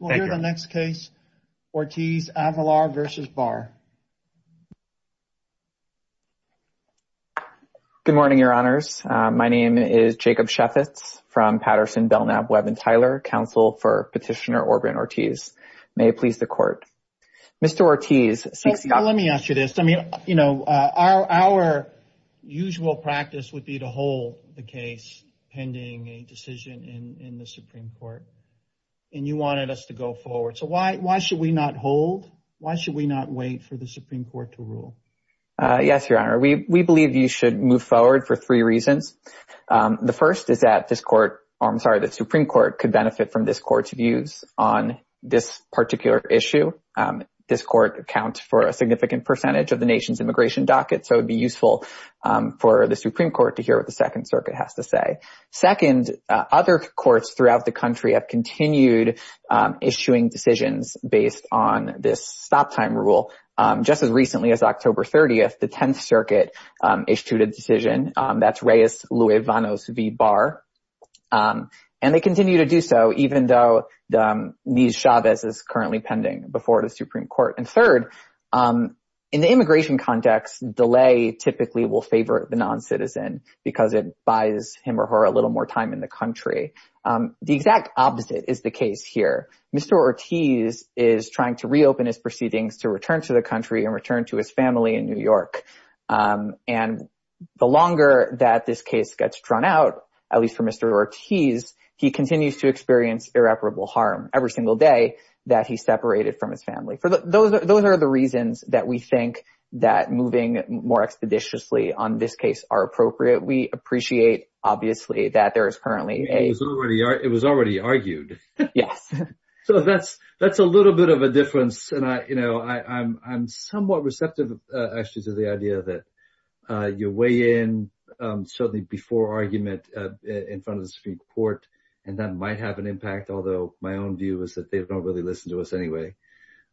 Good morning, your honors. My name is Jacob Sheffitz from Patterson, Belknap, Webb & Tyler, counsel for Petitioner Orben Ortiz. May it please the court. Mr. Ortiz, let me ask you this. I mean, you know, our usual practice would be to hold the case pending a decision in the Supreme Court. And you wanted us to go forward. So why should we not hold? Why should we not wait for the Supreme Court to rule? Yes, your honor, we believe you should move forward for three reasons. The first is that this court, I'm sorry, the Supreme Court could benefit from this court's views on this particular issue. This court accounts for a significant percentage of the nation's immigration docket. So it'd be useful for the Supreme Court to hear what the Second Circuit has to say. Second, other courts throughout the country have continued issuing decisions based on this stop time rule. Just as recently as October 30th, the 10th Circuit issued a decision. That's Reyes-Luevanos v. Barr. And they continue to do so even though Nies-Chavez is currently pending before the Supreme Court. And third, in the immigration context, delay typically will favor the non-citizen because it buys him or her a little more time in the country. The exact opposite is the case here. Mr. Ortiz is trying to reopen his proceedings to return to the country and return to his family in New York. And the longer that this case gets drawn out, at least for Mr. Ortiz, he continues to experience irreparable harm every single day that he's separated from his family. Those are the on this case are appropriate. We appreciate, obviously, that there is currently a... It was already argued. Yes. So that's a little bit of a difference. And I'm somewhat receptive, actually, to the idea that you weigh in certainly before argument in front of the Supreme Court. And that might have an impact, although my own view is that they don't really listen to us anyway.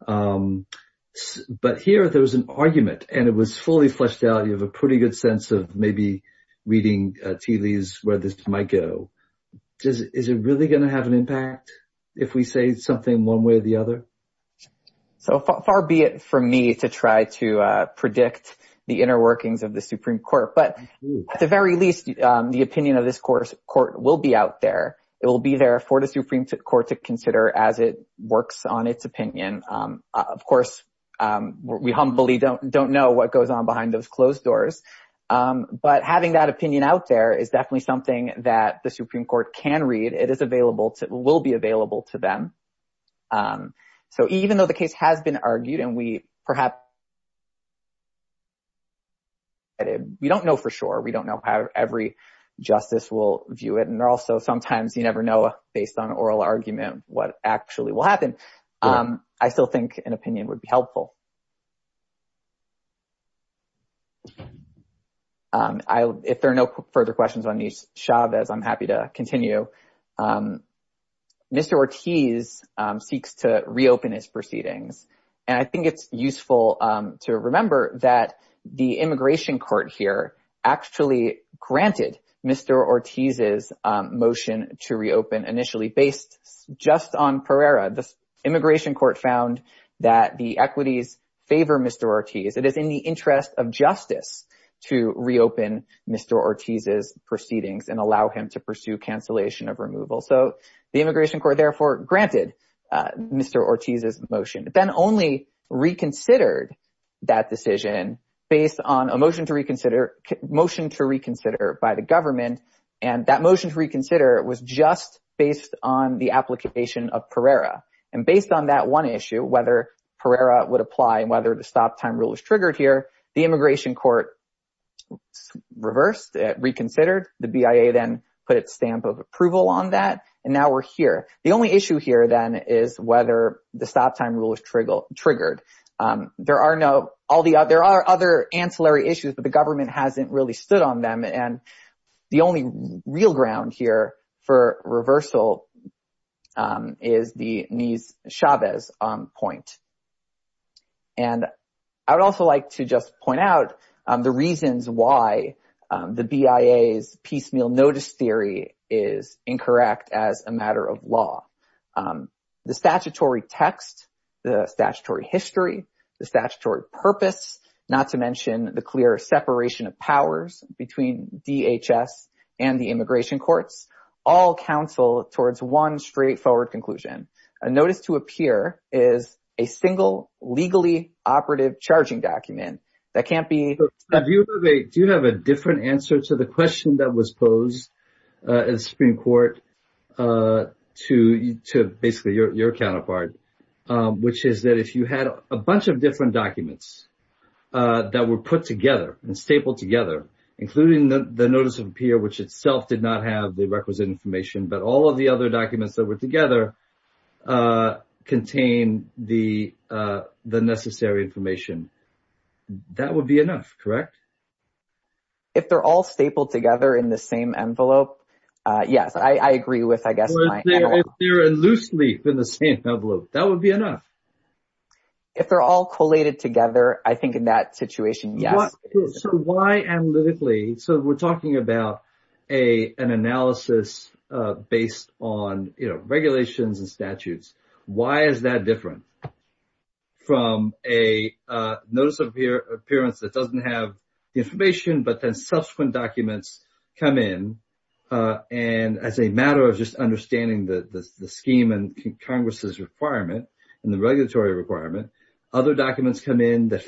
But here, there was an argument, and it was fully fleshed out. You have a pretty good sense of maybe reading Teely's where this might go. Is it really going to have an impact if we say something one way or the other? So far be it from me to try to predict the inner workings of the Supreme Court. But at the very least, the opinion of this court will be out there. It will be there for the Supreme Court to know what goes on behind those closed doors. But having that opinion out there is definitely something that the Supreme Court can read. It will be available to them. So even though the case has been argued and we perhaps... We don't know for sure. We don't know how every justice will view it. And also, sometimes you never know based on oral argument what actually will happen. I still think an opinion would be helpful. If there are no further questions on these, Chavez, I'm happy to continue. Mr. Ortiz seeks to reopen his proceedings. And I think it's useful to remember that the immigration court here actually granted Mr. Ortiz's motion to reopen initially based just on Pereira. The immigration court found that the equities favor Mr. Ortiz, and that the in the interest of justice to reopen Mr. Ortiz's proceedings and allow him to pursue cancellation of removal. So the immigration court therefore granted Mr. Ortiz's motion, but then only reconsidered that decision based on a motion to reconsider by the government. And that motion to reconsider was just based on the application of Pereira. And based on that issue, whether Pereira would apply and whether the stop time rule is triggered here, the immigration court reversed it, reconsidered. The BIA then put a stamp of approval on that. And now we're here. The only issue here then is whether the stop time rule is triggered. There are other ancillary issues, but the government hasn't really stood on them. And the only real ground here for this point. And I would also like to just point out the reasons why the BIA's piecemeal notice theory is incorrect as a matter of law. The statutory text, the statutory history, the statutory purpose, not to mention the clear separation of powers between DHS and the immigration courts, all counsel towards one straightforward conclusion. A notice to a peer is a single legally operative charging document that can't be... Do you have a different answer to the question that was posed in the Supreme Court to basically your counterpart, which is that if you had a bunch of different documents that were put together and stapled together, including the notice of a peer, which itself did not have the requisite information, but all of the other documents that were together contain the necessary information, that would be enough, correct? If they're all stapled together in the same envelope, yes, I agree with, I guess... If they're in loose leaf in the same envelope, that would be enough. If they're all collated together, I think in that situation, yes. Why analytically? We're talking about an analysis based on regulations and statutes. Why is that different from a notice of appearance that doesn't have the information, but then subsequent documents come in, and as a matter of just understanding the scheme and Congress's requirement and the regulatory requirement, other documents come in that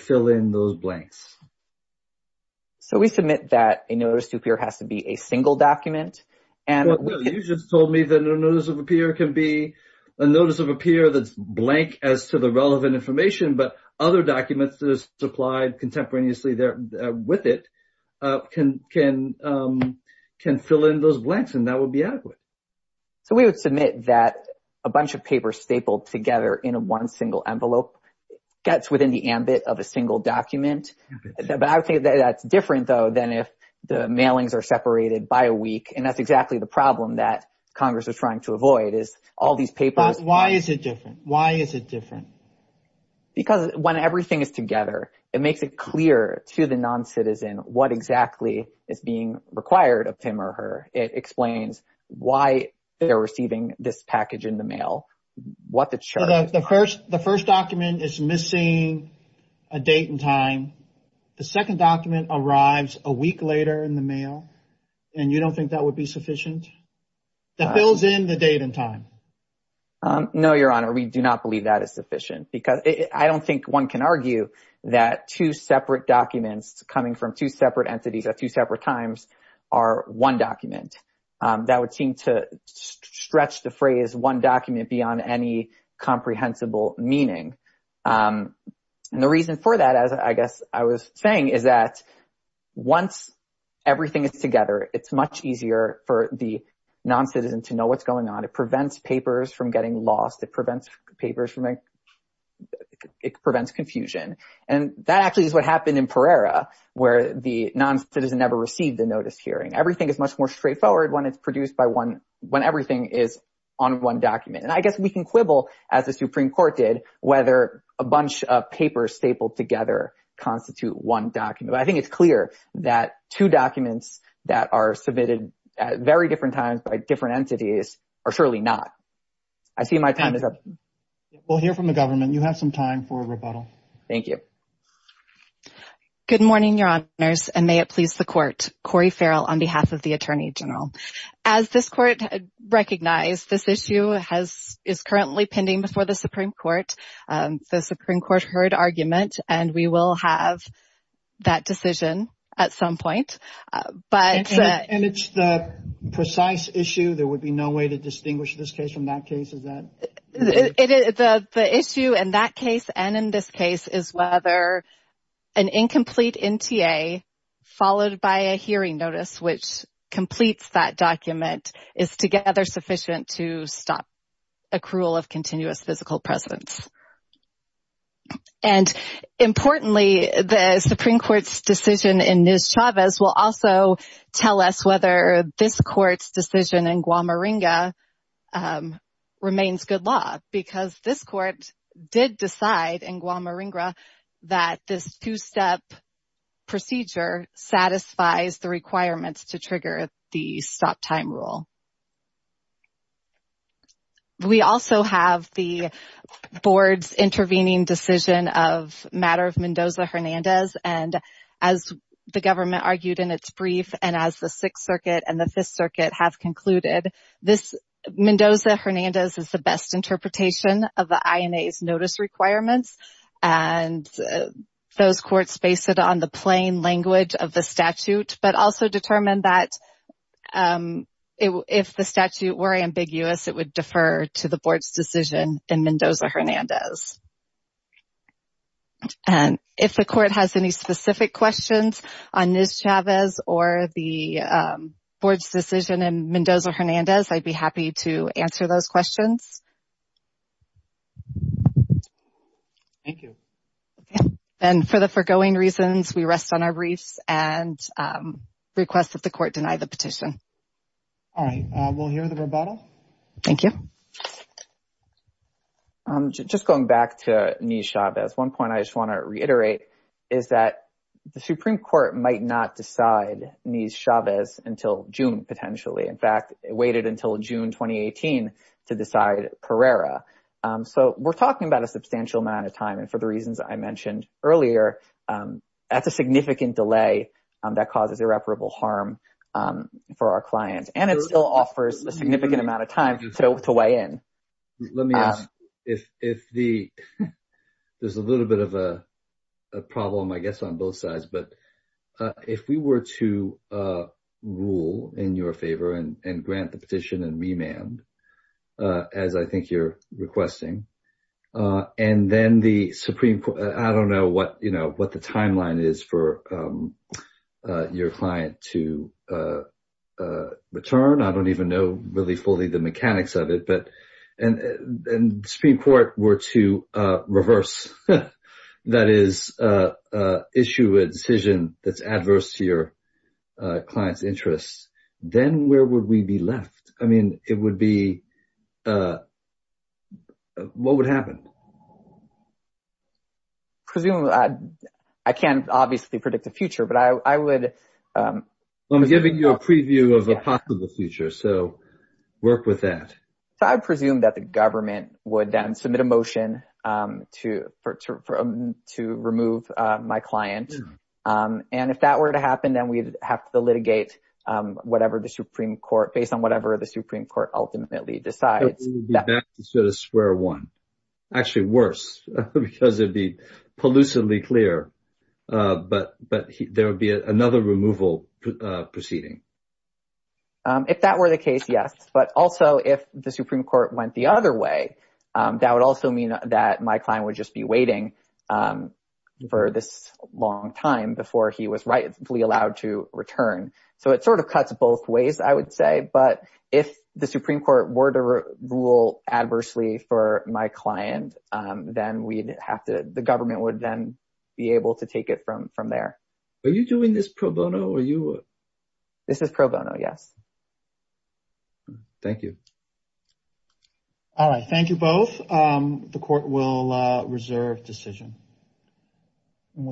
don't? We submit that a notice to appear has to be a single document. You just told me that a notice of appear can be a notice of appear that's blank as to the relevant information, but other documents that are supplied contemporaneously with it can fill in those blanks, and that would be adequate. We would submit that a bunch of papers stapled together in one single envelope gets within the ambit of a single document. I would say that's different, though, than if the mailings are separated by a week, and that's exactly the problem that Congress is trying to avoid is all these papers... Why is it different? Why is it different? Because when everything is together, it makes it clear to the non-citizen what exactly is being required of him or her. It explains why they're receiving this package in the mail. What the church... The first document is missing a date and time. The second document arrives a week later in the mail, and you don't think that would be sufficient? That fills in the date and time. No, Your Honor, we do not believe that is sufficient because I don't think one can argue that two separate documents coming from two separate entities at two separate times are one document. That would seem to stretch the phrase one document beyond any comprehensible meaning, and the reason for that, as I guess I was saying, is that once everything is together, it's much easier for the non-citizen to know what's going on. It prevents papers from getting lost. It prevents papers from... It prevents confusion, and that actually is what happened in Pereira, where the non-citizen never received the notice hearing. Everything is much more straightforward when everything is on one document, and I guess we can quibble, as the Supreme Court did, whether a bunch of papers stapled together constitute one document, but I think it's clear that two documents that are submitted at very different times by different entities are surely not. I see my time is up. We'll hear from the government. You have some time for rebuttal. Thank you. Good morning, Your Honors, and may it please the Court. Cori Farrell on behalf of the Attorney General. As this Court recognized, this issue is currently pending before the Supreme Court. The Supreme Court heard argument, and we will have that decision at some point, but... And it's the precise issue. There would be no way to distinguish this case from that case, is that... The issue in that case and in this case is whether an incomplete NTA followed by a hearing notice, which completes that document, is together sufficient to stop accrual of continuous physical presence. And importantly, the Supreme Court's decision in Ms. Chavez will also tell us whether this Court's decision in Guamaringa remains good law, because this Court did decide in Guamaringa that this two-step procedure satisfies the requirements to trigger the stop-time rule. We also have the Board's intervening decision of matter of Mendoza-Hernandez, and as the government argued in its brief, and as the Sixth Circuit and the Fifth Circuit have concluded, this... Mendoza-Hernandez is the best interpretation of the INA's notice requirements, and those Courts base it on the plain language of the statute, but also determine that if the statute were ambiguous, it would defer to the Board's decision in Mendoza-Hernandez. And if the Court has any specific questions on Ms. Chavez or the Board's decision in Mendoza-Hernandez, I'd be happy to answer those questions. Thank you. And for the foregoing reasons, we rest on our briefs and request that the Court deny the petition. All right. We'll hear the rebuttal. Thank you. I'm just going back to Ms. Chavez. One point I just want to reiterate is that the Supreme Court might not decide Ms. Chavez until June, potentially. In fact, it waited until June 2018 to decide Pereira. So we're talking about a substantial amount of time, and for the reasons I mentioned earlier, that's a significant delay that causes irreparable harm for our clients, and it still offers a Let me ask, there's a little bit of a problem, I guess, on both sides. But if we were to rule in your favor and grant the petition and remand, as I think you're requesting, and then the Supreme Court, I don't know what the timeline is for your client to return. I don't even know really fully the mechanics of it. But if the Supreme Court were to reverse, that is, issue a decision that's adverse to your client's interests, then where would we be left? I mean, it would be—what would happen? Presumably, I can't obviously predict the future, but I would— I'm giving you a preview of a possible future, so work with that. So I presume that the government would then submit a motion to remove my client. And if that were to happen, then we'd have to litigate whatever the Supreme Court, based on whatever the Supreme Court ultimately decides. So we would be back to sort of square one. Actually, worse, because it'd be pollucively clear. But there would be another removal proceeding. If that were the case, yes. But also, if the Supreme Court went the other way, that would also mean that my client would just be waiting for this long time before he was rightfully allowed to return. So it sort of cuts both ways, I would say. But if the Supreme Court were to rule adversely for my client, then we'd have to—the government would then be able to take it from there. Are you doing this pro bono, or are you— This is pro bono, yes. Thank you. All right. Thank you both. The court will reserve decision.